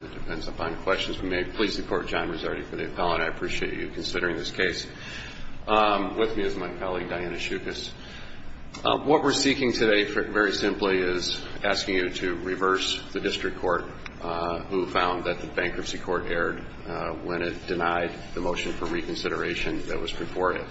Please support John Rizzotti for the appellant. I appreciate you considering this case. With me is my colleague Diana Schuchas. What we're seeking today, very simply, is asking you to reverse the District Court who found that the bankruptcy court erred when it denied the motion for reconsideration that was purported.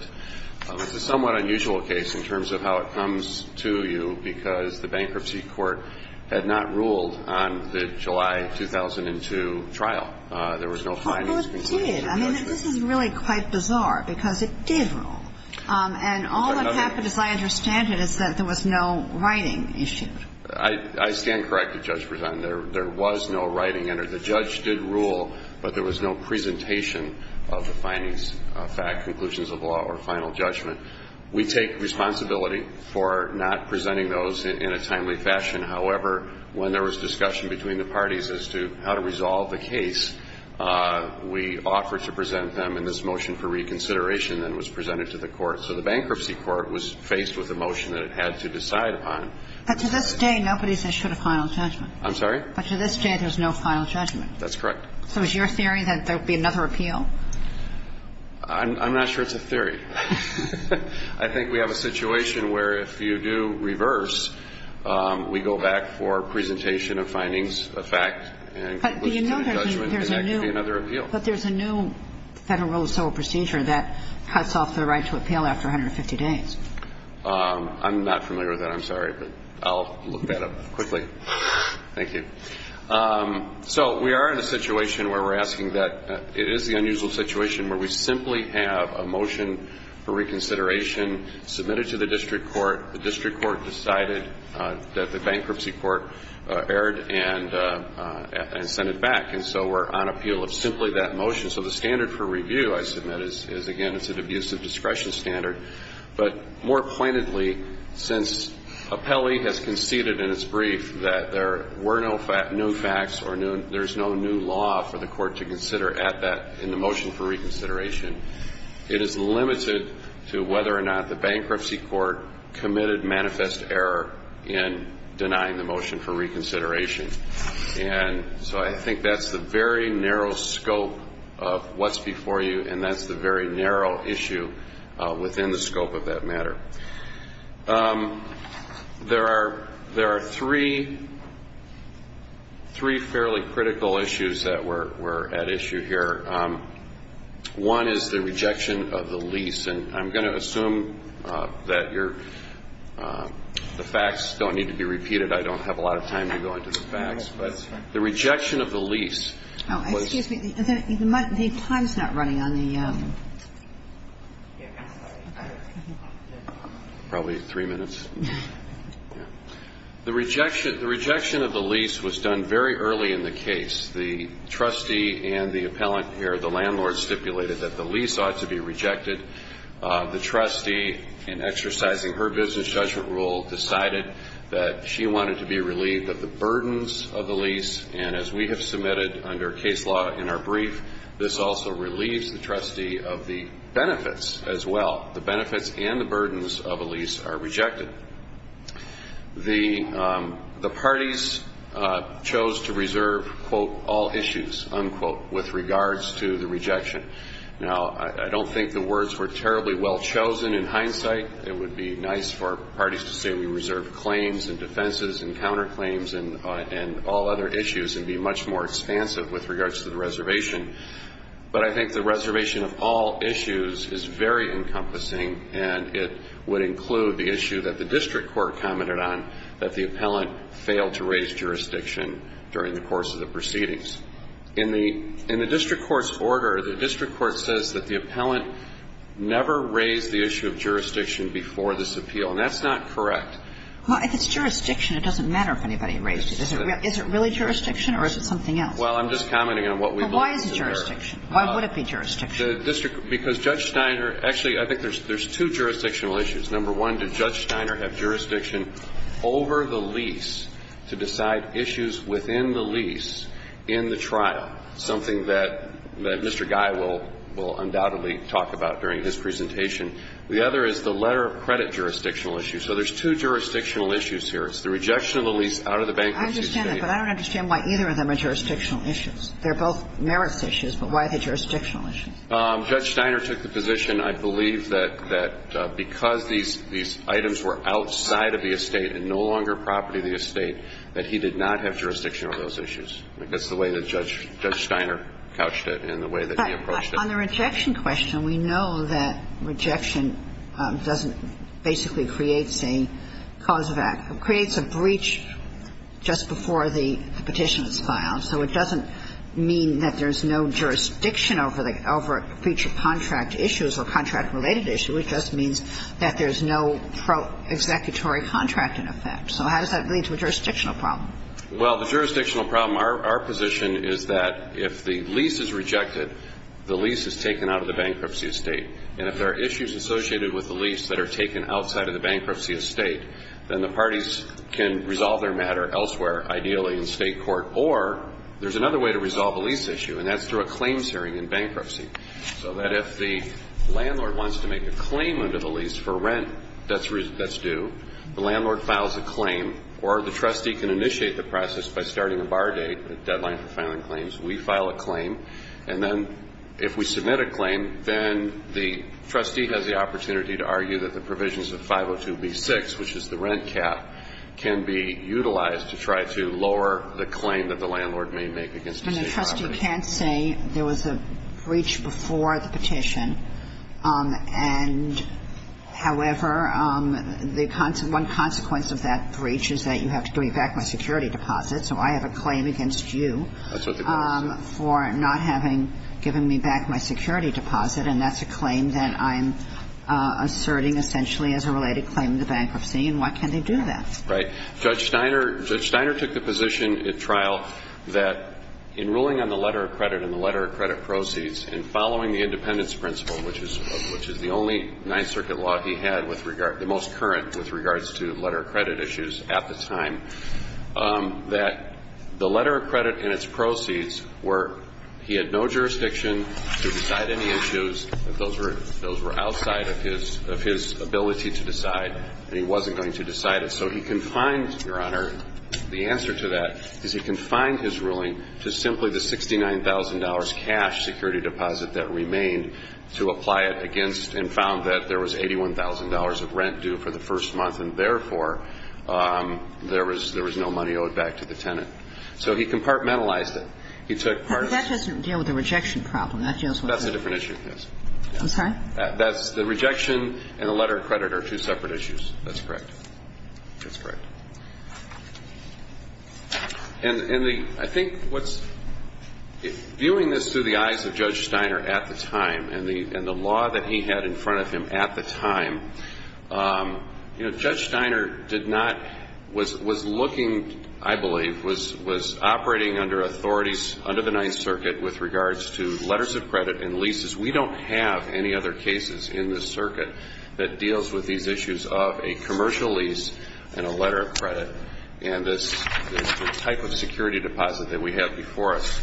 It's a somewhat unusual case in terms of how it comes to you, because the bankruptcy court had not ruled on the July 2015 bankruptcy court that was due to trial. There was no findings. Well, it did. I mean, this is really quite bizarre, because it did rule. And all that happened, as I understand it, is that there was no writing issued. I stand corrected, Judge. There was no writing entered. The judge did rule, but there was no presentation of the findings, conclusions of the law or final judgment. We take responsibility for not presenting those in a timely fashion. However, when there was discussion between the parties as to how to resolve the case, we offered to present them. And this motion for reconsideration then was presented to the court. So the bankruptcy court was faced with a motion that it had to decide upon. But to this day, nobody has issued a final judgment. I'm sorry? But to this day, there's no final judgment. That's correct. So is your theory that there would be another appeal? I'm not sure it's a theory. I think we have a situation where if you do reverse, we go back for the fact and look to the judgment, and that could be another appeal. But there's a new federal civil procedure that cuts off the right to appeal after 150 days. I'm not familiar with that. I'm sorry. But I'll look that up quickly. Thank you. So we are in a situation where we're asking that. It is the unusual situation where we simply have a motion for reconsideration submitted to the court and sent it back. And so we're on appeal of simply that motion. So the standard for review, I submit, is again, it's an abusive discretion standard. But more pointedly, since Apelli has conceded in its brief that there were no facts or there's no new law for the court to consider at that in the motion for reconsideration, it is limited to whether or not the bankruptcy court committed manifest error in denying the motion for reconsideration. And so I think that's the very narrow scope of what's before you, and that's the very narrow issue within the scope of that matter. There are three fairly critical issues that we're at issue here. One is the rejection of the lease. The rejection of the lease was done very early in the case. The trustee and the appellant here, the landlord, stipulated that the lease ought to be rejected. The trustee, in exercising her business judgment rule, decided that she wanted to be relieved of the burdens of the lease. And as we have submitted under case law in our brief, this also relieves the trustee of the benefits as well. The benefits and the burdens of a lease are rejected. The parties chose to reserve, quote, all issues, unquote, with regards to the rejection. Now, I think the words were terribly well chosen in hindsight. It would be nice for parties to say we reserved claims and defenses and counterclaims and all other issues and be much more expansive with regards to the reservation. But I think the reservation of all issues is very encompassing, and it would include the issue that the district court commented on, that the appellant failed to raise jurisdiction during the course of the proceedings. In the district court's order, the district court says that the appellant never raised the issue of jurisdiction before this appeal. And that's not correct. Well, if it's jurisdiction, it doesn't matter if anybody raised it. Is it really jurisdiction, or is it something else? Well, I'm just commenting on what we believe is there. Well, why is it jurisdiction? Why would it be jurisdiction? Because Judge Steiner – actually, I think there's two jurisdictional issues. Number one, did Judge Steiner have jurisdiction over the lease to decide issues within the lease in the trial, something that Mr. Guy will undoubtedly talk about during his presentation? The other is the letter of credit jurisdictional issue. So there's two jurisdictional issues here. It's the rejection of the lease out of the bankruptcy state. I understand that, but I don't understand why either of them are jurisdictional issues. They're both merits issues, but why are they jurisdictional issues? Judge Steiner took the position, I believe, that because these items were outside of the estate and no longer property of the estate, that he did not have jurisdiction over those issues. I think that's the way that Judge Steiner couched it and the way that he approached it. But on the rejection question, we know that rejection doesn't basically create a cause of act. It creates a breach just before the petition is filed. So it doesn't mean that there's no jurisdiction over a breach of contract issues or contract-related issue. It just means that there's no pro-executory contract in effect. So how does that lead to a jurisdictional problem? Well, the jurisdictional problem, our position is that if the lease is rejected, the lease is taken out of the bankruptcy estate. And if there are issues associated with the lease that are taken outside of the bankruptcy estate, then the parties can resolve their matter elsewhere, ideally in state court. Or there's another way to resolve a lease issue, and that's through a claims hearing in bankruptcy. So that if the landlord wants to make a claim under the lease for rent that's due, the landlord files a claim, or the trustee can initiate the process by starting a bar date, a deadline for filing claims. We file a claim, and then if we submit a claim, then the trustee has the opportunity to argue that the provisions of 502B6, which is the rent cap, can be utilized to try to lower the claim that the landlord may make against a state property. But a trustee can't say there was a breach before the petition, and however, one consequence of that breach is that you have to give me back my security deposit, so I have a claim against you for not having given me back my security deposit, and that's a claim that I'm asserting essentially as a related claim to bankruptcy, and why can't they do that? Right. Judge Steiner took the position at trial that in ruling on the letter of credit and the letter of credit proceeds, and following the independence principle, which is the only Ninth Circuit law he had, the most current with regards to letter of credit issues at the time, that the letter of credit and its proceeds were, he had no jurisdiction to decide any issues, that those were outside of his ability to decide, and he wasn't going to decide it. So he confined, Your Honor, the answer to that is he confined his ruling to simply the $69,000 cash security deposit that remained to apply it against and found that there was $81,000 of rent due for the first month, and therefore there was no money owed back to the tenant. So he compartmentalized it. He took part of the ---- But that doesn't deal with the rejection problem. That deals with the ---- That's a different issue, yes. I'm sorry? The rejection and the letter of credit are two separate issues. That's correct. That's correct. And I think what's ---- viewing this through the eyes of Judge Steiner at the time and the law that he had in front of him at the time, you know, Judge Steiner did not, was looking, I believe, was operating under authorities under the Ninth Circuit with regards to letters of credit and leases. We don't have any other cases in this circuit that deals with these issues of a commercial lease and a letter of credit. And this type of security deposit that we have before us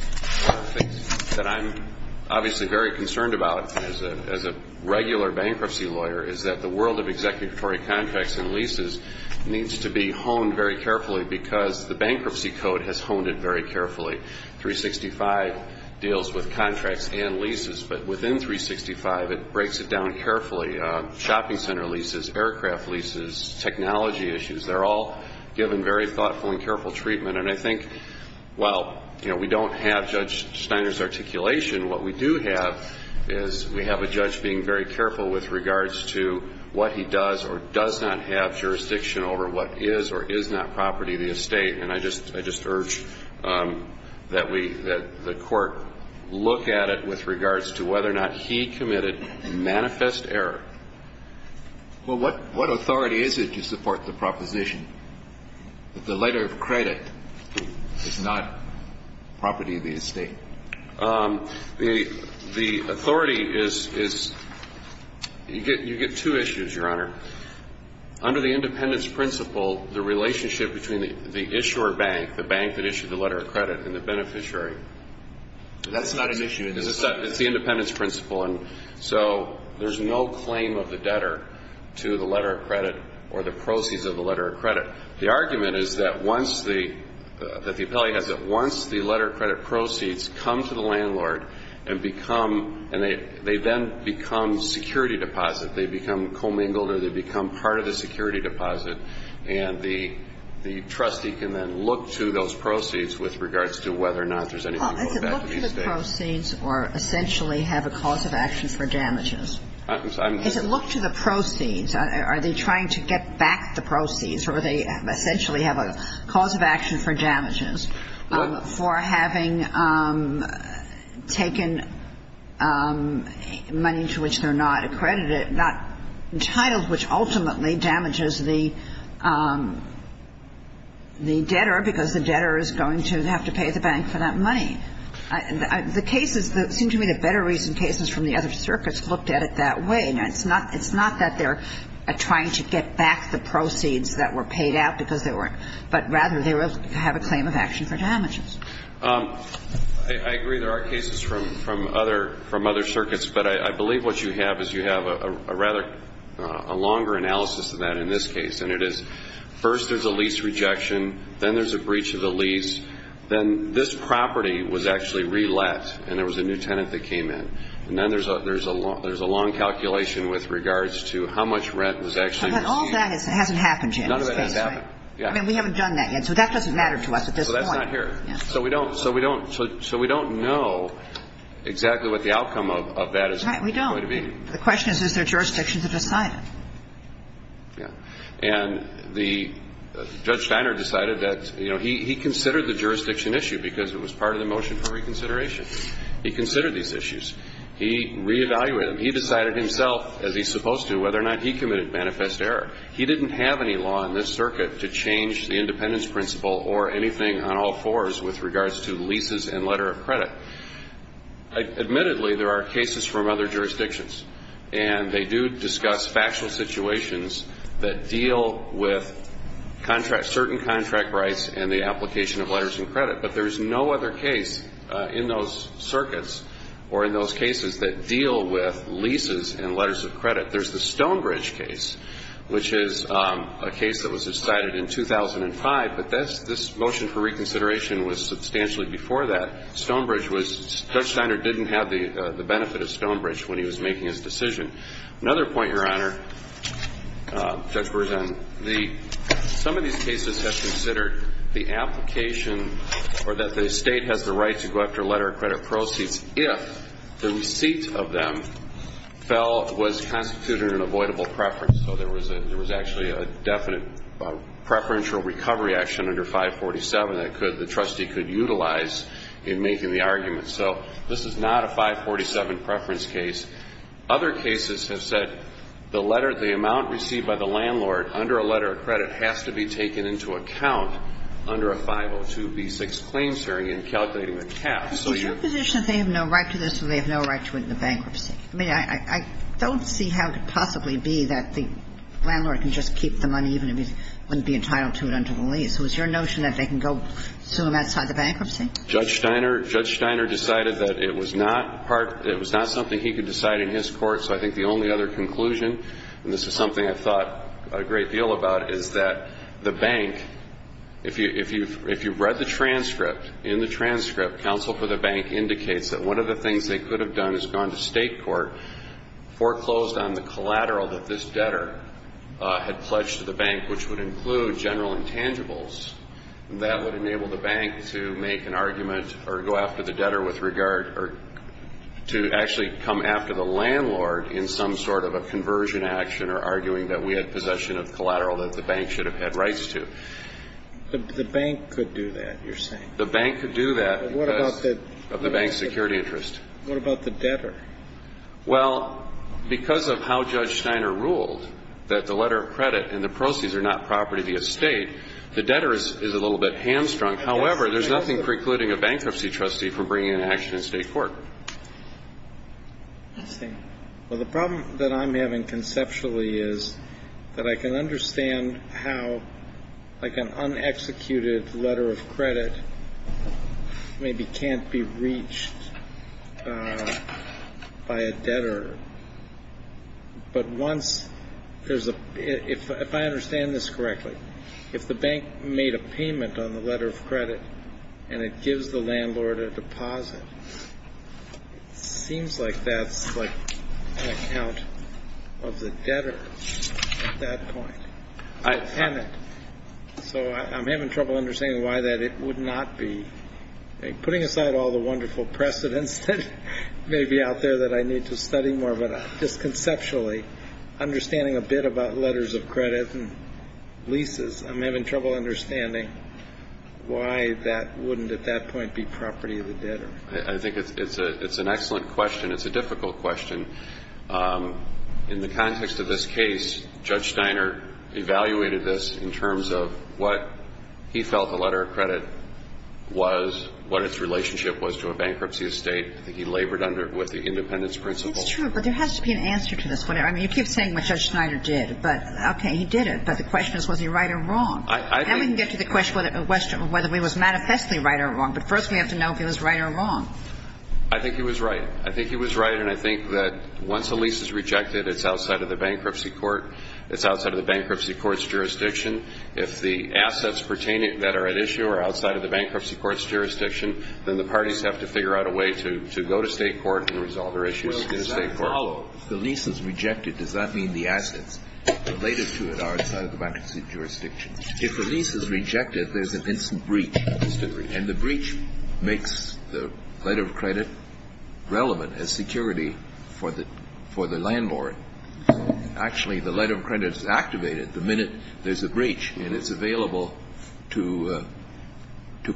that I'm obviously very concerned about as a regular bankruptcy lawyer is that the world of executory contracts and leases needs to be honed very carefully because the bankruptcy code has honed it very carefully. 365 deals with contracts and leases, but within 365 it breaks it down carefully. Shopping center leases, aircraft leases, technology issues, they're all given very thoughtful and careful treatment. And I think while, you know, we don't have Judge Steiner's authority to support the proposition, I think it's important that we look at it with regards to what he does or does not have jurisdiction over what is or is not property of the estate. And I just urge that we, that the court look at it with regards to whether or not he committed manifest error. Well, what authority is it to support the proposition that the letter of credit is not property of the estate? Well, you get two issues, Your Honor. Under the independence principle, the relationship between the issuer bank, the bank that issued the letter of credit and the beneficiary. That's not an issue. It's the independence principle. And so there's no claim of the debtor to the letter of credit or the proceeds of the letter of credit. The argument is that once the, that the appellee has it, once the letter of credit proceeds come to the landlord and become, and they then become security deposit, they become commingled or they become part of the security deposit. And the, the trustee can then look to those proceeds with regards to whether or not there's anything going back to the estate. Well, is it look to the proceeds or essentially have a cause of action for damages? Is it look to the proceeds? Are they trying to get back the proceeds? Or are they essentially have a cause of action for damages for having taken, you know, taken out of the property? Well, it's the, the debtor that's going to pay for the money to which they're not accredited, not entitled, which ultimately damages the, the debtor, because the debtor is going to have to pay the bank for that money. The cases, it seems to me the better recent cases from the other circuits looked at it that way. Now, it's not, it's not that they're trying to get back the proceeds that were paid out because they were, but rather they have a claim of action for damages. I agree there are cases from other circuits, but I believe what you have is you have a rather, a longer analysis of that in this case, and it is first there's a lease rejection, then there's a breach of the lease, then this property was actually re-let and there was a new tenant that came in. And then there's a long calculation with regards to how much rent was actually received. But all that hasn't happened yet in this case, right? None of that has happened, yeah. I mean, we haven't done that yet, so that doesn't matter to us at this point. So that's not here. So we don't, so we don't, so we don't know exactly what the outcome of that is going to be. Right, we don't. The question is, is there jurisdiction to decide it? And the, Judge Steiner decided that, you know, he considered the jurisdiction issue because it was part of the motion for reconsideration. He considered these issues. He re-evaluated them. He decided himself, as he's supposed to, whether or not he committed manifest error. He didn't have any law in this circuit to change the independence principle or anything on all fours with regards to leases and letter of credit. Admittedly, there are cases from other jurisdictions, and they do discuss factual situations that deal with certain contract rights and the application of letters of credit. But there's no other case in those circuits or in those cases that deal with leases and letters of credit. There's the Stonebridge case, which is a case that was decided in 2005, but this motion for reconsideration was substantially before that. Stonebridge was, Judge Steiner didn't have the benefit of Stonebridge when he was making his decision. Another point, Your Honor, Judge Bergen, the, some of these cases have considered the application or that the state has the right to go after letter of credit proceeds if the receipt of them fell, was constituted an avoidable preference. So there was a, there was actually a definite preferential recovery action under 547 that could, the trustee could utilize in order to get a letter of credit. And, of course, this is not a 547 preference case. Other cases have said the letter, the amount received by the landlord under a letter of credit has to be taken into account under a 502B6 claims hearing and calculating the caps. So you're... But is it your position that they have no right to this or they have no right to it in the bankruptcy? I mean, I don't see how it could possibly be that the landlord can just keep the money even if he wouldn't be entitled to it under the lease. Was your notion that they can go sue him outside the bankruptcy? Judge Steiner, Judge Steiner decided that it was not part, it was not something he could decide in his court. So I think the only other conclusion, and this is something I thought a great deal about, is that the bank, if you, if you've, if you've read the transcript, in the transcript, counsel for the bank indicates that one of the things they could have done is gone to state court, foreclosed on the collateral that this debtor had pledged to the bank, which would include general intangibles. That would enable the bank to make an argument or go after the debtor with regard or to actually come after the landlord in some sort of a conversion action or arguing that we had possession of collateral that the bank should have had rights to. The bank could do that, you're saying. The bank could do that because of the bank's security interest. What about the debtor? Well, because of how Judge Steiner ruled that the letter of credit and the proceeds are not property of the estate, the debtor is a little bit hamstrung. However, there's nothing precluding a bankruptcy trustee from bringing an action in state court. I see. Well, the problem that I'm having conceptually is that I can understand how, like an unexecuted letter of credit maybe can't be reached by a debtor. But once there's a, if I understand this correctly, if the bank made a payment on the letter of credit and it gives the landlord a deposit, it seems like that's like an account of the debtor at that point. So I'm having trouble understanding why that it would not be. Putting aside all the wonderful precedents that may be out there that I need to study more, but just conceptually understanding a bit about letters of credit and leases, I'm having trouble understanding why that wouldn't at that point be property of the debtor. I think it's an excellent question. It's a difficult question. In the context of this case, Judge Steiner evaluated this in terms of what he felt the letter of credit was, what its relationship was to a bankruptcy estate. I think he labored under, with the independence principle. It's true, but there has to be an answer to this. I mean, you keep saying what Judge Steiner did, but okay, he did it, but the question is was he right or wrong? Now we can get to the question of whether he was manifestly right or wrong, but first we have to know if he was right or wrong. I think he was right. I think he was right, and I think that once a lease is rejected, it's outside of the bankruptcy court. It's outside of the bankruptcy court's jurisdiction. If the assets that are at issue are outside of the bankruptcy court's jurisdiction, then the parties have to figure out a way to go to state court and resolve their issues in state court. Well, does that follow? If the lease is rejected, does that mean the assets related to it are outside of the bankruptcy jurisdiction? If the lease is rejected, there's an instant breach, and the breach makes the letter of credit relevant as security for the landlord. Actually, the letter of credit is activated the minute there's a breach, and it's available to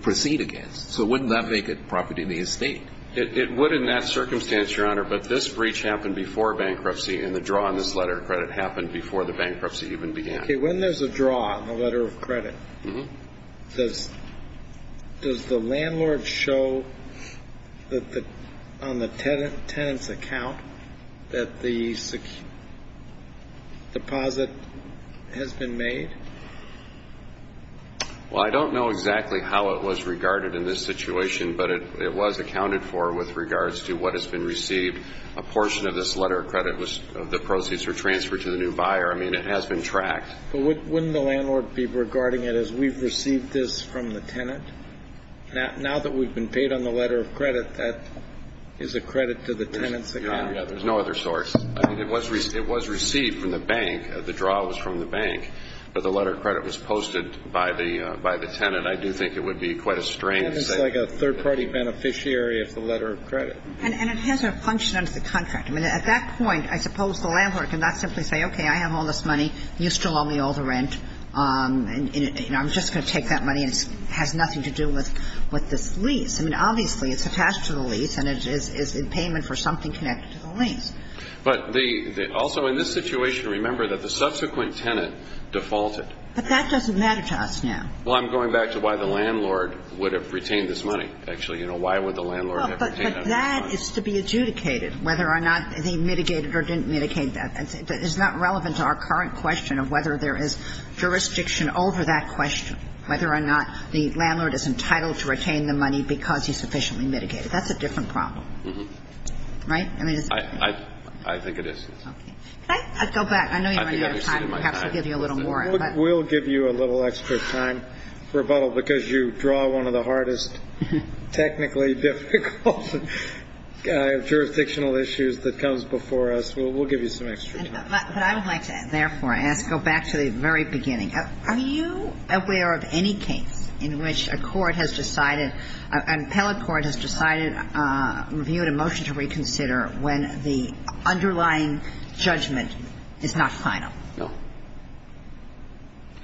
proceed against. So wouldn't that make it property in the estate? It would in that circumstance, Your Honor, but this breach happened before bankruptcy, and the draw on this letter of credit happened before the bankruptcy even began. Okay. When there's a draw on the letter of credit, does the landlord show on the tenant's account that the deposit has been made? Well, I don't know exactly how it was regarded in this situation, but it was accounted for with regards to what has been received. A portion of this letter of credit, the proceeds were transferred to the new buyer. I mean, it has been tracked. But wouldn't the landlord be regarding it as we've received this from the tenant? Now that we've been paid on the letter of credit, that is a credit to the tenant's account. Yeah, there's no other source. I mean, it was received from the bank. The draw was from the bank, but the letter of credit was posted by the tenant. I do think it would be quite a strange thing. It's like a third-party beneficiary of the letter of credit. And it has a function under the contract. I mean, at that point, I suppose the landlord can not simply say, okay, I have all this money, you still owe me all the rent, and I'm just going to take that money, and it has nothing to do with this lease. I mean, obviously, it's attached to the lease, and it is in payment for something connected to the lease. But also in this situation, remember that the subsequent tenant defaulted. But that doesn't matter to us now. Well, I'm going back to why the landlord would have retained this money, actually. You know, why would the landlord have retained that money? But that is to be adjudicated, whether or not they mitigated or didn't mitigate that. It's not relevant to our current question of whether there is jurisdiction over that question, whether or not the landlord is entitled to retain the money because he sufficiently mitigated. That's a different problem. Mm-hmm. Right? I think it is. Okay. Can I go back? I know you're running out of time. Perhaps I'll give you a little more. We'll give you a little extra time, Rebuttal, because you draw one of the hardest technically difficult jurisdictional issues that comes before us. We'll give you some extra time. But I would like to, therefore, ask, go back to the very beginning. Are you aware of any case in which a court has decided, an appellate court has decided to review a motion to reconsider when the underlying judgment is not final? No.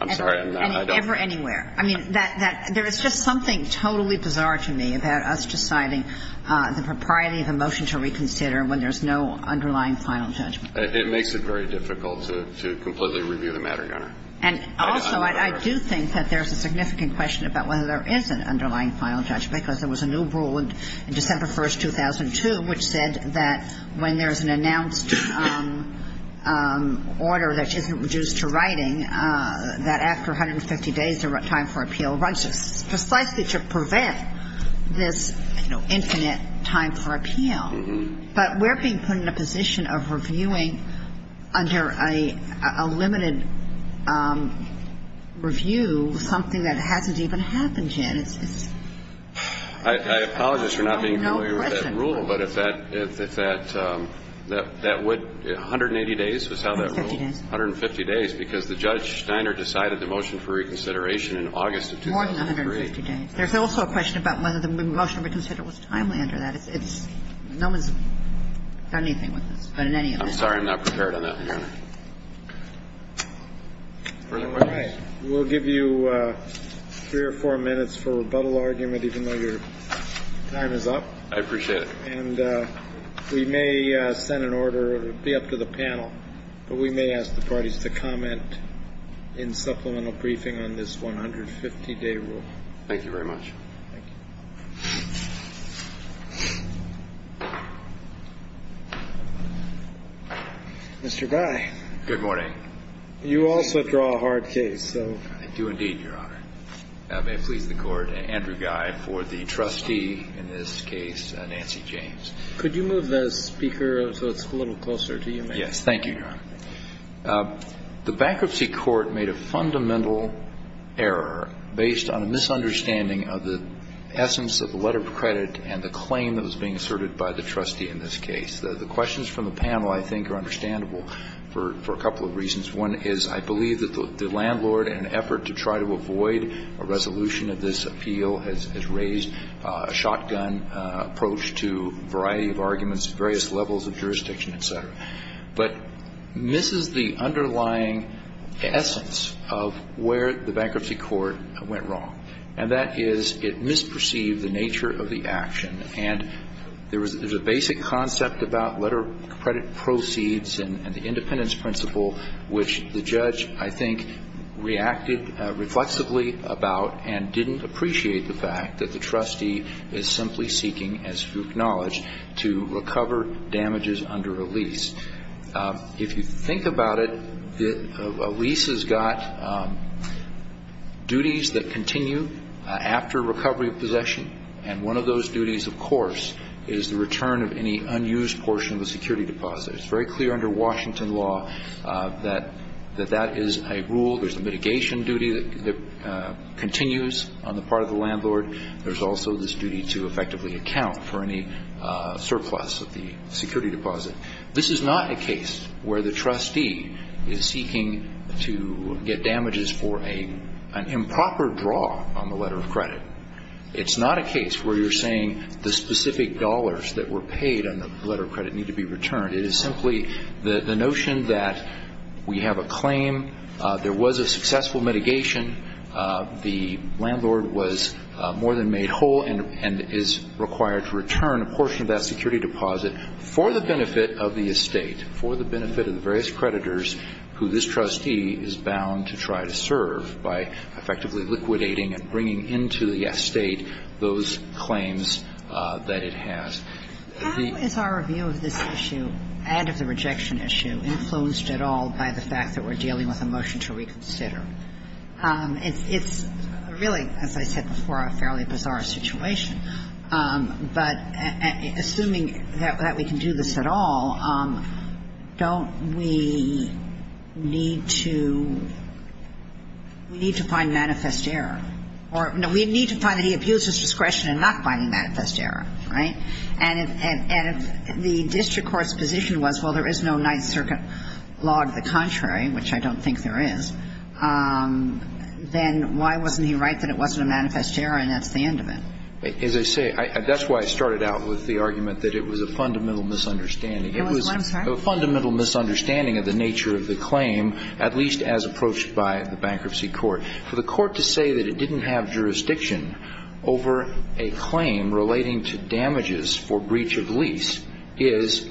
I'm sorry, I'm not. Ever anywhere. I mean, there is just something totally bizarre to me about us deciding the propriety of a motion to reconsider when there's no underlying final judgment. It makes it very difficult to completely review the matter, Your Honor. And also, I do think that there's a significant question about whether there is an announced order that isn't reduced to writing that after 150 days, the time for appeal rises, precisely to prevent this, you know, infinite time for appeal. But we're being put in a position of reviewing under a limited review something that hasn't even happened yet. I apologize for not being familiar with that rule, but if that, that would, 180 days was how that ruled? 150 days. 150 days, because the Judge Steiner decided the motion for reconsideration in August of 2003. More than 150 days. There's also a question about whether the motion to reconsider was timely under that. It's, no one's done anything with this. But in any event. I'm sorry, I'm not prepared on that one, Your Honor. Further questions? All right. We'll give you three or four minutes for rebuttal argument, even though your time is up. I appreciate it. And we may send an order, it would be up to the panel, but we may ask the parties to comment in supplemental briefing on this 150-day rule. Thank you very much. Thank you. Mr. Guy. Good morning. You also draw a hard case, so. I do indeed, Your Honor. I may please the Court. Andrew Guy for the trustee in this case, Nancy James. Could you move the speaker so it's a little closer to you, maybe? Yes. Thank you, Your Honor. The bankruptcy court made a fundamental error based on a misunderstanding of the essence of the letter of credit and the claim that was being asserted by the trustee in this case. The questions from the panel, I think, are understandable for a couple of reasons. One is I believe that the landlord, in an effort to try to avoid a resolution of this appeal, has raised a shotgun approach to a variety of arguments at various levels of jurisdiction, et cetera. But this is the underlying essence of where the bankruptcy court went wrong, and that is it misperceived the nature of the action. And there's a basic concept about letter of credit proceeds and the independence principle, which the judge, I think, reacted reflexively about and didn't appreciate the fact that the trustee is simply seeking, as you acknowledge, to recover damages under a lease. If you think about it, a lease has got duties that continue after recovery of course is the return of any unused portion of the security deposit. It's very clear under Washington law that that is a rule. There's a mitigation duty that continues on the part of the landlord. There's also this duty to effectively account for any surplus of the security deposit. This is not a case where the trustee is seeking to get damages for an improper draw on the letter of credit. It's not a case where you're saying the specific dollars that were paid on the letter of credit need to be returned. It is simply the notion that we have a claim, there was a successful mitigation, the landlord was more than made whole and is required to return a portion of that security deposit for the benefit of the estate, for the benefit of the various creditors who this trustee is bound to try to serve by effectively liquidating and bringing into the estate those claims that it has. The ---- How is our view of this issue and of the rejection issue influenced at all by the fact that we're dealing with a motion to reconsider? It's really, as I said before, a fairly bizarre situation. But assuming that we can do this at all, don't we need to find manifest error or we need to find that he abused his discretion in not finding manifest error? Right? And if the district court's position was, well, there is no Ninth Circuit law to the contrary, which I don't think there is, then why wasn't he right that it wasn't a manifest error and that's the end of it? As I say, that's why I started out with the argument that it was a fundamental misunderstanding. It was a fundamental misunderstanding of the nature of the claim, at least as approached by the bankruptcy court. For the court to say that it didn't have jurisdiction over a claim relating to damages for breach of lease is,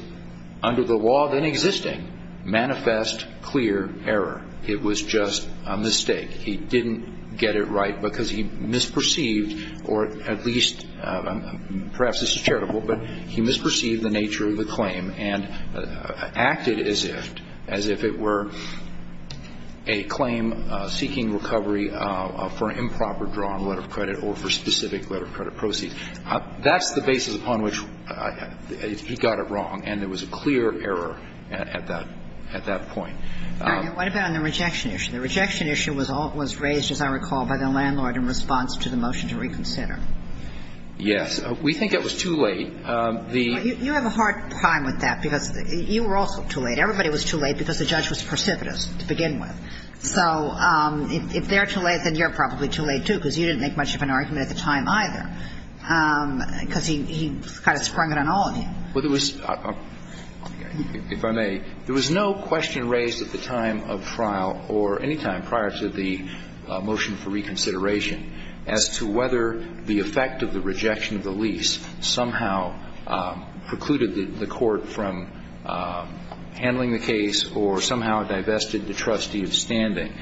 under the law then existing, manifest, clear error. It was just a mistake. He didn't get it right because he misperceived, or at least perhaps this is charitable, but he misperceived the nature of the claim and acted as if it were a clear error. And that's the basis upon which he got it wrong. And there was a clear error at that point. What about on the rejection issue? The rejection issue was raised, as I recall, by the landlord in response to the motion to reconsider. Yes. We think it was too late. You have a hard time with that because you were also too late. Everybody was too late because the judge was precipitous to begin with. So if they're too late, then you're probably too late, too, because you didn't make much of an argument at the time, either, because he kind of sprung it on all of you. Well, there was no question raised at the time of trial or any time prior to the motion for reconsideration as to whether the effect of the rejection of the lease somehow precluded the court from handling the case or somehow divested the trustee from standing.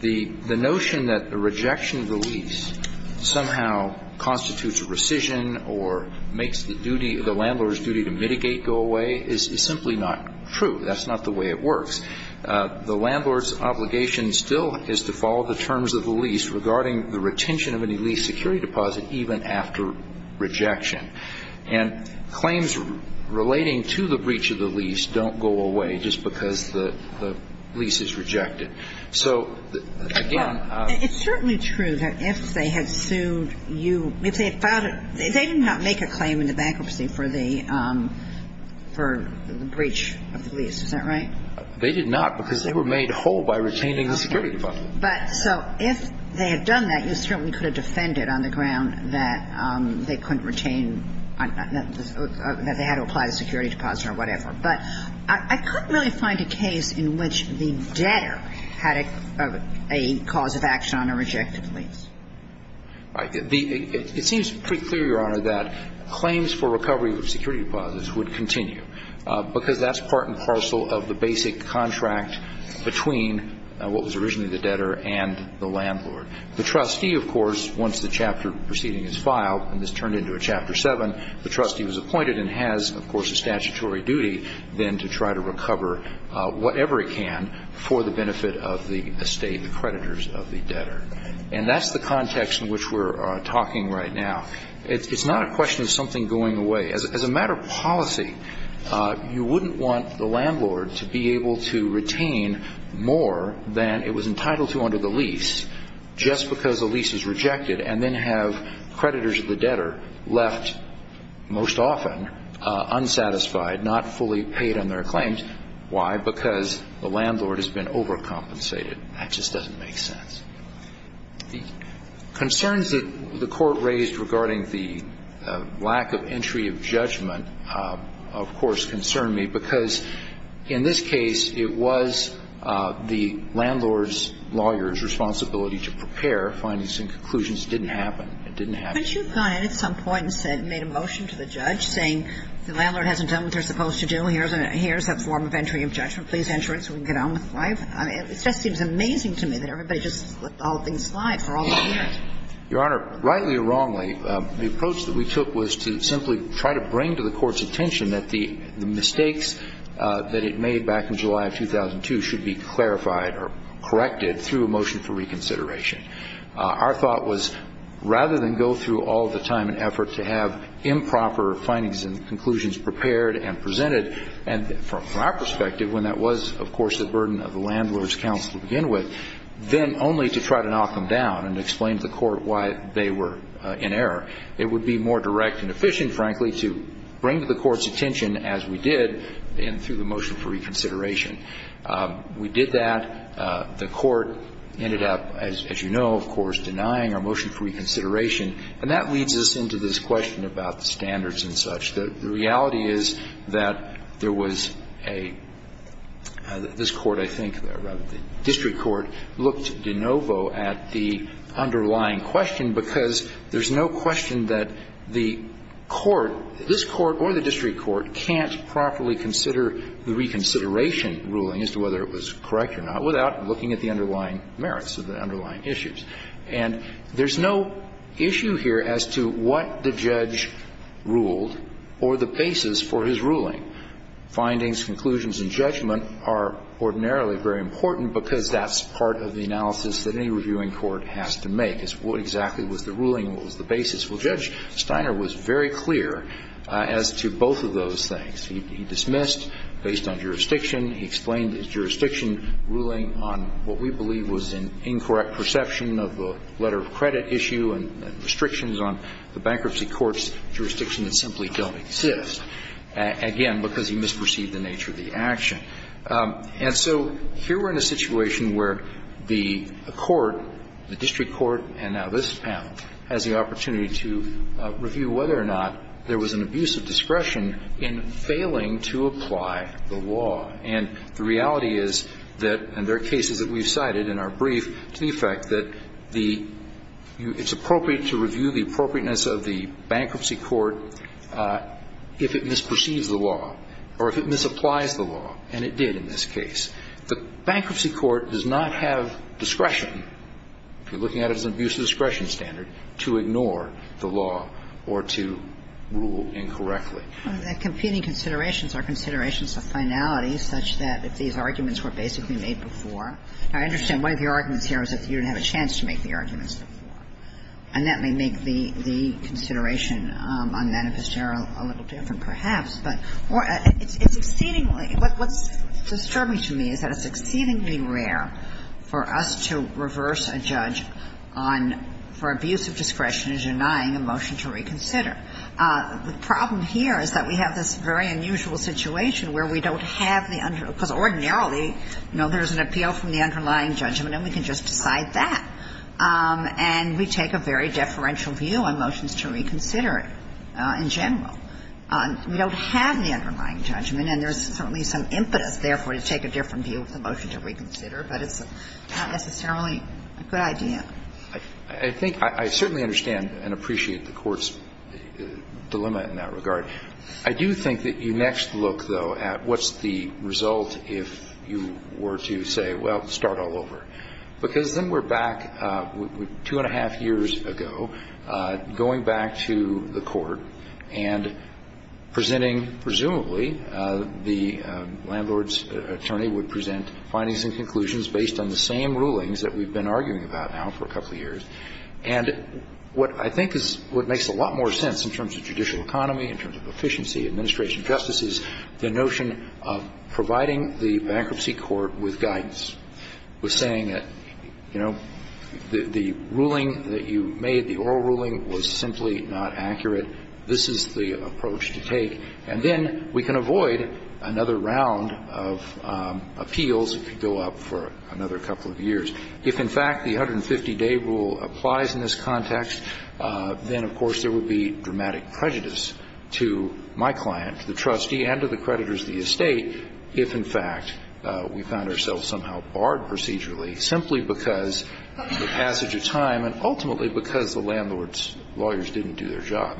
The notion that the rejection of the lease somehow constitutes a rescission or makes the duty, the landlord's duty to mitigate go away is simply not true. That's not the way it works. The landlord's obligation still is to follow the terms of the lease regarding the retention of any lease security deposit even after rejection. And claims relating to the breach of the lease don't go away just because the lease is rejected. So, again, It's certainly true that if they had sued you, if they had filed it, they did not make a claim in the bankruptcy for the breach of the lease. Is that right? They did not because they were made whole by retaining the security deposit. But so if they had done that, you certainly could have defended on the ground that they couldn't retain, that they had to apply the security deposit or whatever. But I couldn't really find a case in which the debtor had a cause of action on a rejected lease. It seems pretty clear, Your Honor, that claims for recovery of security deposits would continue because that's part and parcel of the basic contract between what was originally the debtor and the landlord. The trustee, of course, once the chapter preceding his file, and this turned into a Chapter 7, the trustee was appointed and has, of course, a statutory duty then to try to recover whatever he can for the benefit of the estate, the creditors of the debtor. And that's the context in which we're talking right now. It's not a question of something going away. As a matter of policy, you wouldn't want the landlord to be able to retain more than it was entitled to under the lease just because the lease is rejected and then have creditors of the debtor left most often unsatisfied, not fully paid on their claims. Why? Because the landlord has been overcompensated. That just doesn't make sense. The concerns that the Court raised regarding the lack of entry of judgment, of course, concern me, because in this case, it was the landlord's lawyer's responsibility to prepare findings and conclusions. It didn't happen. It didn't happen. But you've gone in at some point and said, made a motion to the judge saying, the landlord hasn't done what they're supposed to do. Here's a form of entry of judgment. Please enter it so we can get on with life. It just seems amazing to me that everybody just left all things live for all those years. Your Honor, rightly or wrongly, the approach that we took was to simply try to bring to the Court's attention that the mistakes that it made back in July of 2002 should be clarified or corrected through a motion for reconsideration. Our thought was, rather than go through all the time and effort to have improper findings and conclusions prepared and presented, and from our perspective, when that was, of course, the burden of the landlord's counsel to begin with, then only to try to knock them down and explain to the Court why they were in error. It would be more direct and efficient, frankly, to bring to the Court's attention as we did and through the motion for reconsideration. We did that. The Court ended up, as you know, of course, denying our motion for reconsideration. And that leads us into this question about the standards and such. The reality is that there was a – this Court, I think, the district court, looked de novo at the underlying question because there's no question that the court, this Court or the district court, can't properly consider the reconsideration ruling as to whether it was correct or not without looking at the underlying merits of the underlying issues. And there's no issue here as to what the judge ruled or the basis for his ruling. Findings, conclusions and judgment are ordinarily very important because that's part of the analysis that any reviewing court has to make is what exactly was the ruling and what was the basis. Well, Judge Steiner was very clear as to both of those things. He dismissed based on jurisdiction. He explained the jurisdiction ruling on what we believe was an incorrect perception of the letter of credit issue and restrictions on the bankruptcy court's jurisdiction that simply don't exist. Again, because he misperceived the nature of the action. And so here we're in a situation where the court, the district court and now this panel, has the opportunity to review whether or not there was an abuse of discretion in failing to apply the law. And the reality is that – and there are cases that we've cited in our brief to the effect that the – it's appropriate to review the appropriateness of the bankruptcy court if it misperceives the law or if it misapplies the law. And it did in this case. The bankruptcy court does not have discretion, if you're looking at it as an abuse of discretion standard, to ignore the law or to rule incorrectly. Well, the competing considerations are considerations of finality such that if these arguments were basically made before. I understand one of your arguments here is that you didn't have a chance to make the arguments before. And that may make the consideration on manifest error a little different perhaps. But it's exceedingly – what's disturbing to me is that it's exceedingly rare for us to reverse a judge on – for abuse of discretion in denying a motion to reconsider. The problem here is that we have this very unusual situation where we don't have the – because ordinarily, you know, there's an appeal from the underlying judgment and we can just decide that. And we take a very deferential view on motions to reconsider in general. We don't have the underlying judgment, and there's certainly some impetus, therefore, to take a different view of the motion to reconsider. But it's not necessarily a good idea. I think – I certainly understand and appreciate the Court's dilemma in that regard. I do think that you next look, though, at what's the result if you were to say, well, start all over. Because then we're back two and a half years ago, going back to the Court and presenting presumably the landlord's attorney would present findings and conclusions based on the same rulings that we've been arguing about now for a couple of years. And what I think is what makes a lot more sense in terms of judicial economy, in terms of efficiency, administration justices, the notion of providing the bankruptcy court with guidance, with saying that, you know, the ruling that you made, the oral ruling, was simply not accurate. This is the approach to take. And then we can avoid another round of appeals if you go up for another couple of years. If, in fact, the 150-day rule applies in this context, then, of course, there would be dramatic prejudice to my client, the trustee, and to the creditors of the estate if, in fact, we found ourselves somehow barred procedurally simply because the passage of time and ultimately because the landlord's lawyers didn't do their job.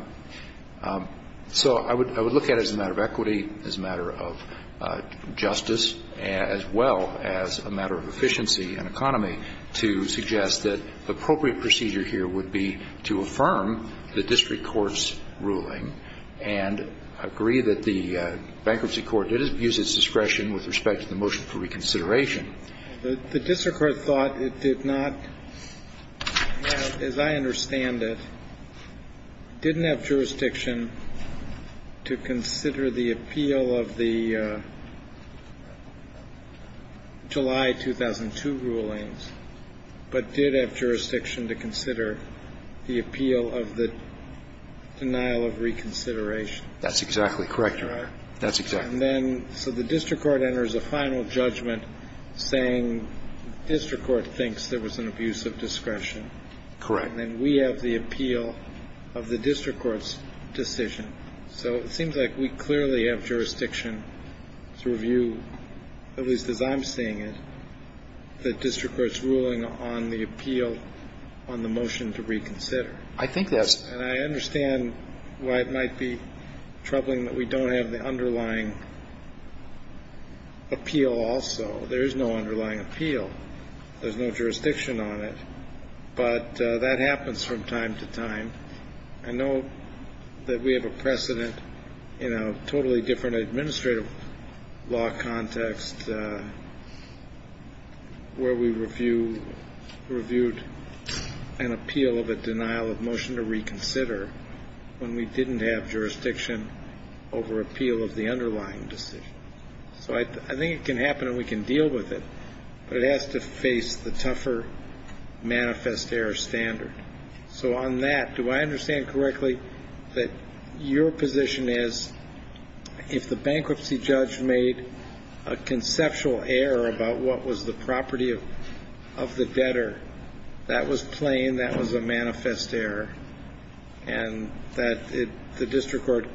So I would look at it as a matter of equity, as a matter of justice, as well as a matter of efficiency and economy to suggest that the appropriate procedure here would be to affirm the district court's ruling and agree that the bankruptcy court did abuse its discretion with respect to the motion for reconsideration. The district court thought it did not have, as I understand it, didn't have jurisdiction to consider the appeal of the July 2002 rulings, but did have jurisdiction to consider the appeal of the denial of reconsideration. That's exactly correct, Your Honor. That's exactly right. And then so the district court enters a final judgment saying the district court thinks there was an abuse of discretion. Correct. And then we have the appeal of the district court's decision. So it seems like we clearly have jurisdiction to review, at least as I'm seeing it, the district court's ruling on the appeal on the motion to reconsider. I think that's... And I understand why it might be troubling that we don't have the underlying appeal also. There is no underlying appeal. There's no jurisdiction on it. But that happens from time to time. I know that we have a precedent in a totally different administrative law context where we reviewed an appeal of a denial of motion to reconsider when we didn't have jurisdiction over appeal of the underlying decision. So I think it can happen and we can deal with it, but it has to face the tougher manifest error standard. So on that, do I understand correctly that your position is if the bankruptcy judge made a conceptual error about what was the property of the debtor, that was plain, that was a manifest error, and that the district court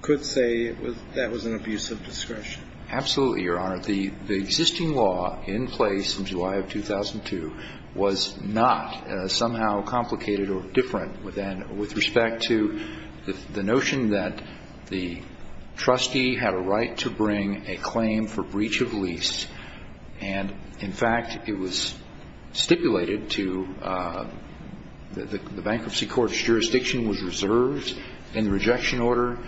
could say that was an abuse of discretion? Absolutely, Your Honor. The existing law in place in July of 2002 was not somehow complicated or different with respect to the notion that the trustee had a right to bring a claim for breach of lease. And, in fact, it was stipulated to the bankruptcy court's jurisdiction was reserved in the rejection order.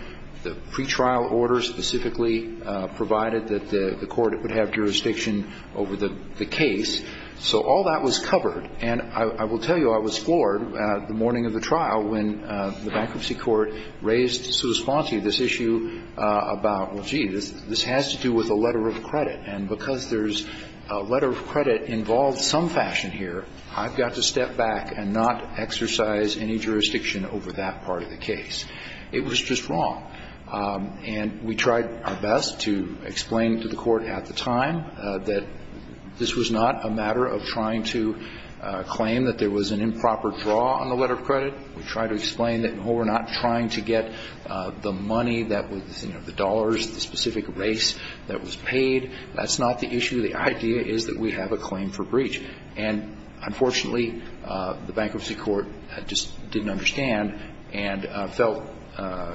The pretrial order specifically provided that the court would have jurisdiction over the case. So all that was covered. And I will tell you, I was floored the morning of the trial when the bankruptcy court raised to the response to this issue about, well, gee, this has to do with a letter of credit. And because there's a letter of credit involved some fashion here, I've got to step back and not exercise any jurisdiction over that part of the case. It was just wrong. And we tried our best to explain to the court at the time that this was not a matter of trying to claim that there was an improper draw on the letter of credit. We tried to explain that, no, we're not trying to get the money that was, you know, the dollars, the specific race that was paid. That's not the issue. The idea is that we have a claim for breach. And, unfortunately, the bankruptcy court just didn't understand and felt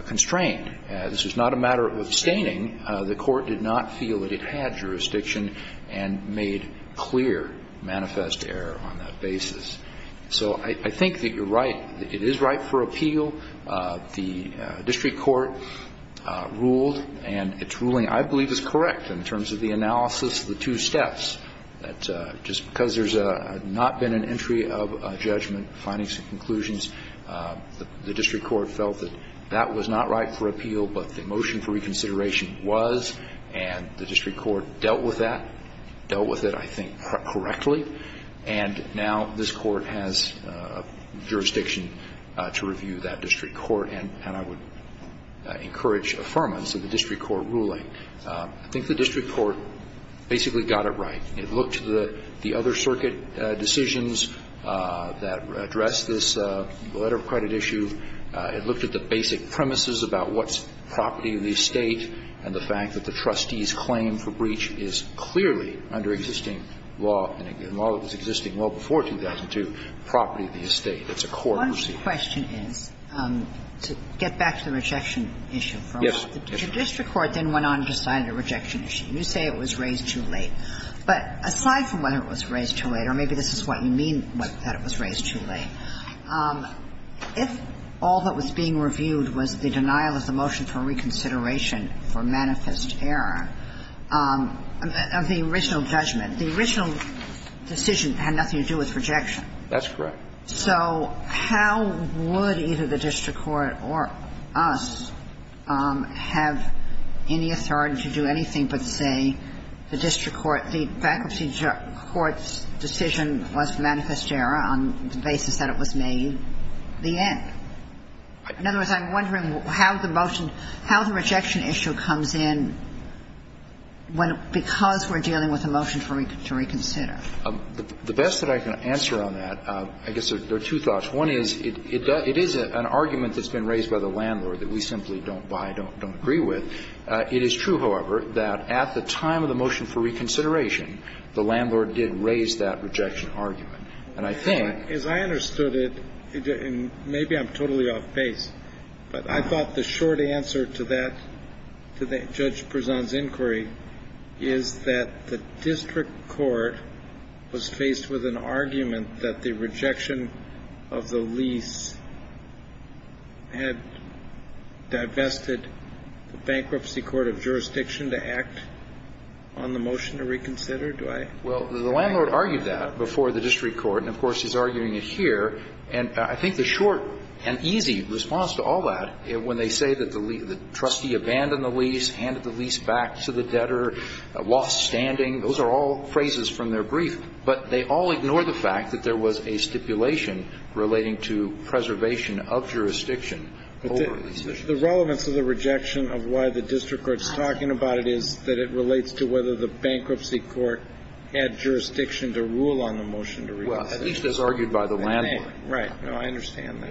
constrained. This was not a matter of abstaining. The court did not feel that it had jurisdiction and made clear manifest error on that basis. So I think that you're right. It is right for appeal. The district court ruled, and its ruling I believe is correct in terms of the analysis of the two steps, that just because there's not been an entry of judgment, findings and conclusions, the district court felt that that was not right for appeal, but the consideration was, and the district court dealt with that, dealt with it, I think, correctly. And now this court has jurisdiction to review that district court. And I would encourage affirmance of the district court ruling. I think the district court basically got it right. It looked to the other circuit decisions that addressed this letter of credit issue. It looked at the basic premises about what's property of the estate and the fact that the trustee's claim for breach is clearly under existing law, and while it was existing well before 2002, property of the estate. It's a court receipt. One question is, to get back to the rejection issue for a moment. Yes. The district court then went on and decided a rejection issue. You say it was raised too late. But aside from whether it was raised too late, or maybe this is what you mean, that it was raised too late, if all that was being reviewed was the denial of the motion for reconsideration for manifest error of the original judgment, the original decision had nothing to do with rejection. That's correct. So how would either the district court or us have any authority to do anything but say the district court, the faculty court's decision was manifest error on the basis that it was made, the end? In other words, I'm wondering how the motion, how the rejection issue comes in when we're, because we're dealing with a motion to reconsider. The best that I can answer on that, I guess there are two thoughts. One is, it is an argument that's been raised by the landlord that we simply don't buy, don't agree with. It is true, however, that at the time of the motion for reconsideration, the landlord did raise that rejection argument. And I think ---- As I understood it, and maybe I'm totally off base, but I thought the short answer to that, to Judge Prezan's inquiry, is that the district court was faced with an argument that the rejection of the lease had divested the bankruptcy court of jurisdiction to act on the motion to reconsider. Do I ---- Well, the landlord argued that before the district court. And, of course, he's arguing it here. And I think the short and easy response to all that, when they say that the trustee abandoned the lease, handed the lease back to the debtor, lost standing, those are all phrases from their brief. But they all ignore the fact that there was a stipulation relating to preservation of jurisdiction over the decision. The relevance of the rejection of why the district court is talking about it is that it relates to whether the bankruptcy court had jurisdiction to rule on the motion to reconsider. Well, at least it was argued by the landlord. Right. No, I understand that.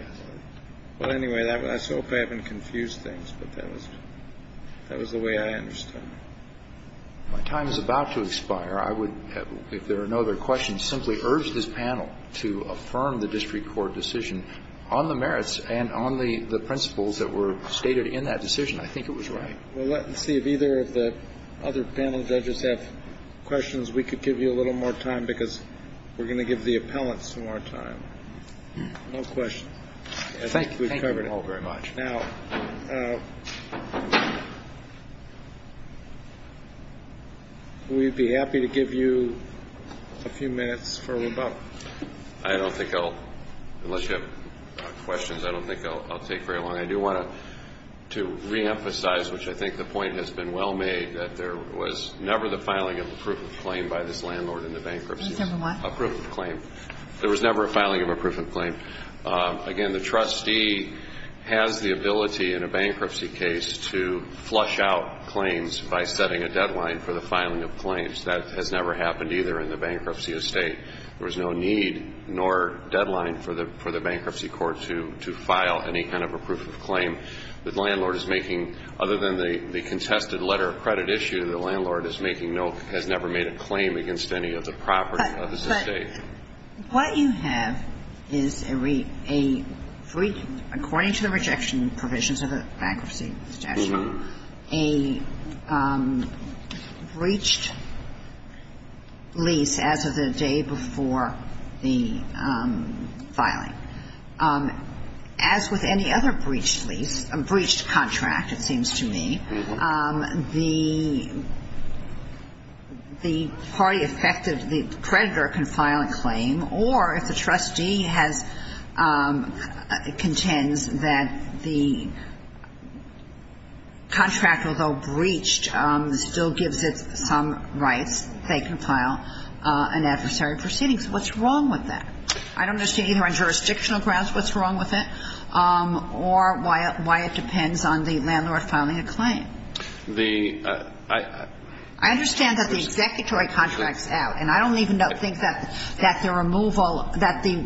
Well, anyway, I hope I haven't confused things. But that was the way I understand it. My time is about to expire. I would, if there are no other questions, simply urge this panel to affirm the district court decision on the merits and on the principles that were stated in that decision. I think it was right. Well, let's see if either of the other panel judges have questions. We could give you a little more time because we're going to give the appellants some more time. No questions. Thank you. Thank you all very much. Now, we'd be happy to give you a few minutes for rebuttal. I don't think I'll, unless you have questions, I don't think I'll take very long. I do want to reemphasize, which I think the point has been well made, that there was never the filing of a proof of claim by this landlord in the bankruptcy. Case number one. A proof of claim. There was never a filing of a proof of claim. Again, the trustee has the ability in a bankruptcy case to flush out claims by setting a deadline for the filing of claims. That has never happened either in the bankruptcy estate. There was no need nor deadline for the bankruptcy court to file any kind of a proof of claim. The landlord is making, other than the contested letter of credit issue, the landlord has never made a claim against any of the property of his estate. What you have is a free, according to the rejection provisions of the bankruptcy statute, a breached lease as of the day before the filing. As with any other breached lease, a breached contract, it seems to me, the party creditor can file a claim, or if the trustee contends that the contract, although breached, still gives it some rights, they can file an adversary proceeding. What's wrong with that? I don't understand either on jurisdictional grounds what's wrong with it or why it depends on the landlord filing a claim. The ---- I understand that the executory contracts out, and I don't even think that the removal ---- that the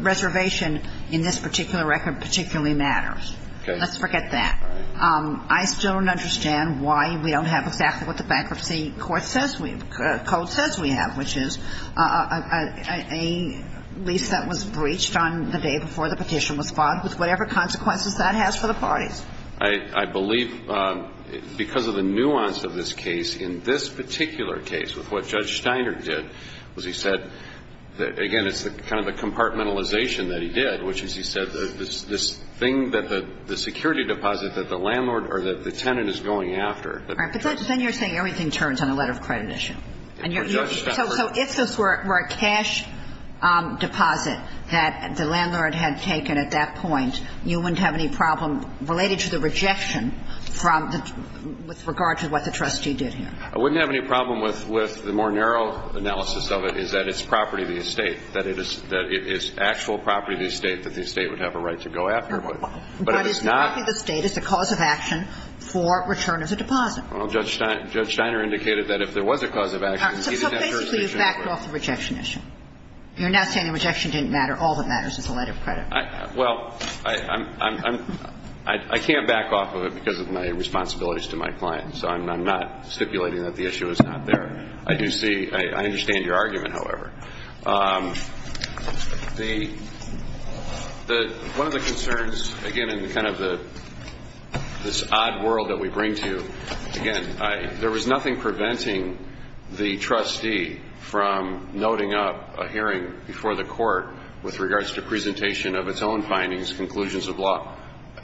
reservation in this particular record particularly matters. Okay. Let's forget that. I still don't understand why we don't have exactly what the bankruptcy court says we have, code says we have, which is a lease that was breached on the day before the petition was filed, with whatever consequences that has for the parties. I believe because of the nuance of this case, in this particular case, with what Judge Steiner did, was he said, again, it's kind of a compartmentalization that he did, which is he said this thing that the security deposit that the landlord or the tenant is going after. All right. But then you're saying everything turns on a letter of accreditation. And you're ---- So if this were a cash deposit that the landlord had taken at that point, you wouldn't have any problem related to the rejection from the ---- with regard to what the trustee did here? I wouldn't have any problem with the more narrow analysis of it is that it's property of the estate, that it is actual property of the estate that the estate would have a right to go after. But it is not ---- But it's not the estate. It's a cause of action for return of the deposit. Well, Judge Steiner indicated that if there was a cause of action, he didn't have jurisdiction over it. All right. So basically you've backed off the rejection issue. You're now saying the rejection didn't matter. All that matters is a letter of credit. Well, I can't back off of it because of my responsibilities to my clients. I'm not stipulating that the issue is not there. I do see ---- I understand your argument, however. The ---- One of the concerns, again, in kind of the ---- this odd world that we bring to, again, there was nothing preventing the trustee from noting up a hearing before the court with regards to presentation of its own findings, conclusions of law.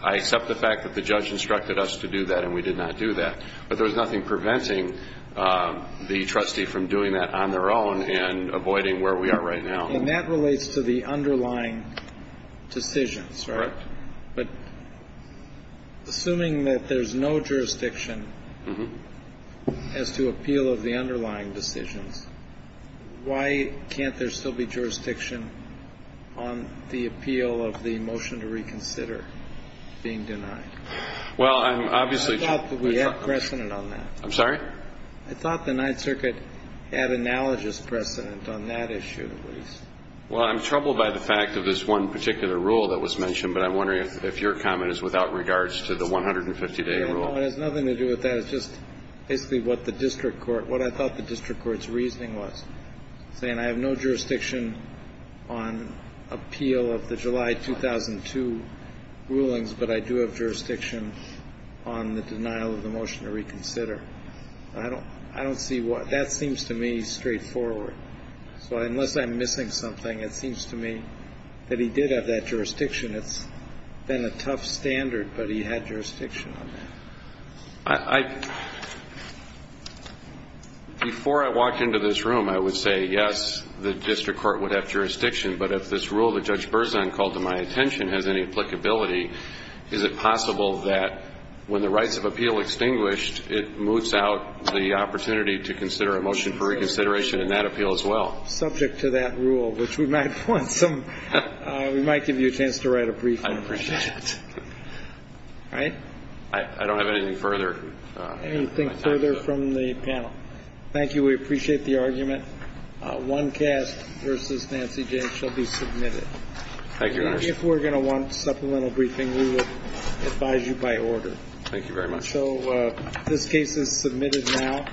I accept the fact that the judge instructed us to do that, and we did not do that. But there was nothing preventing the trustee from doing that on their own and avoiding where we are right now. And that relates to the underlying decisions, right? Correct. But assuming that there's no jurisdiction as to appeal of the underlying decisions, why can't there still be jurisdiction on the appeal of the motion to reconsider being denied? Well, I'm obviously ---- I thought that we had precedent on that. I'm sorry? I thought the Ninth Circuit had analogous precedent on that issue at least. Well, I'm troubled by the fact of this one particular rule that was mentioned, but I'm wondering if your comment is without regards to the 150-day rule. No, it has nothing to do with that. It has to do with just basically what the district court ---- what I thought the district court's reasoning was, saying I have no jurisdiction on appeal of the July 2002 rulings, but I do have jurisdiction on the denial of the motion to reconsider. I don't see what ---- that seems to me straightforward. So unless I'm missing something, it seems to me that he did have that jurisdiction. It's been a tough standard, but he had jurisdiction on that. I ---- before I walk into this room, I would say, yes, the district court would have jurisdiction, but if this rule that Judge Berzon called to my attention has any applicability, is it possible that when the rights of appeal extinguished, it moves out the opportunity to consider a motion for reconsideration in that appeal as well? Subject to that rule, which we might want some ---- we might give you a chance to write a brief on it. I appreciate it. All right? I don't have anything further. Anything further from the panel? Thank you. We appreciate the argument. One cast versus Nancy James shall be submitted. Thank you, Your Honor. If we're going to want supplemental briefing, we would advise you by order. Thank you very much. So this case is submitted now.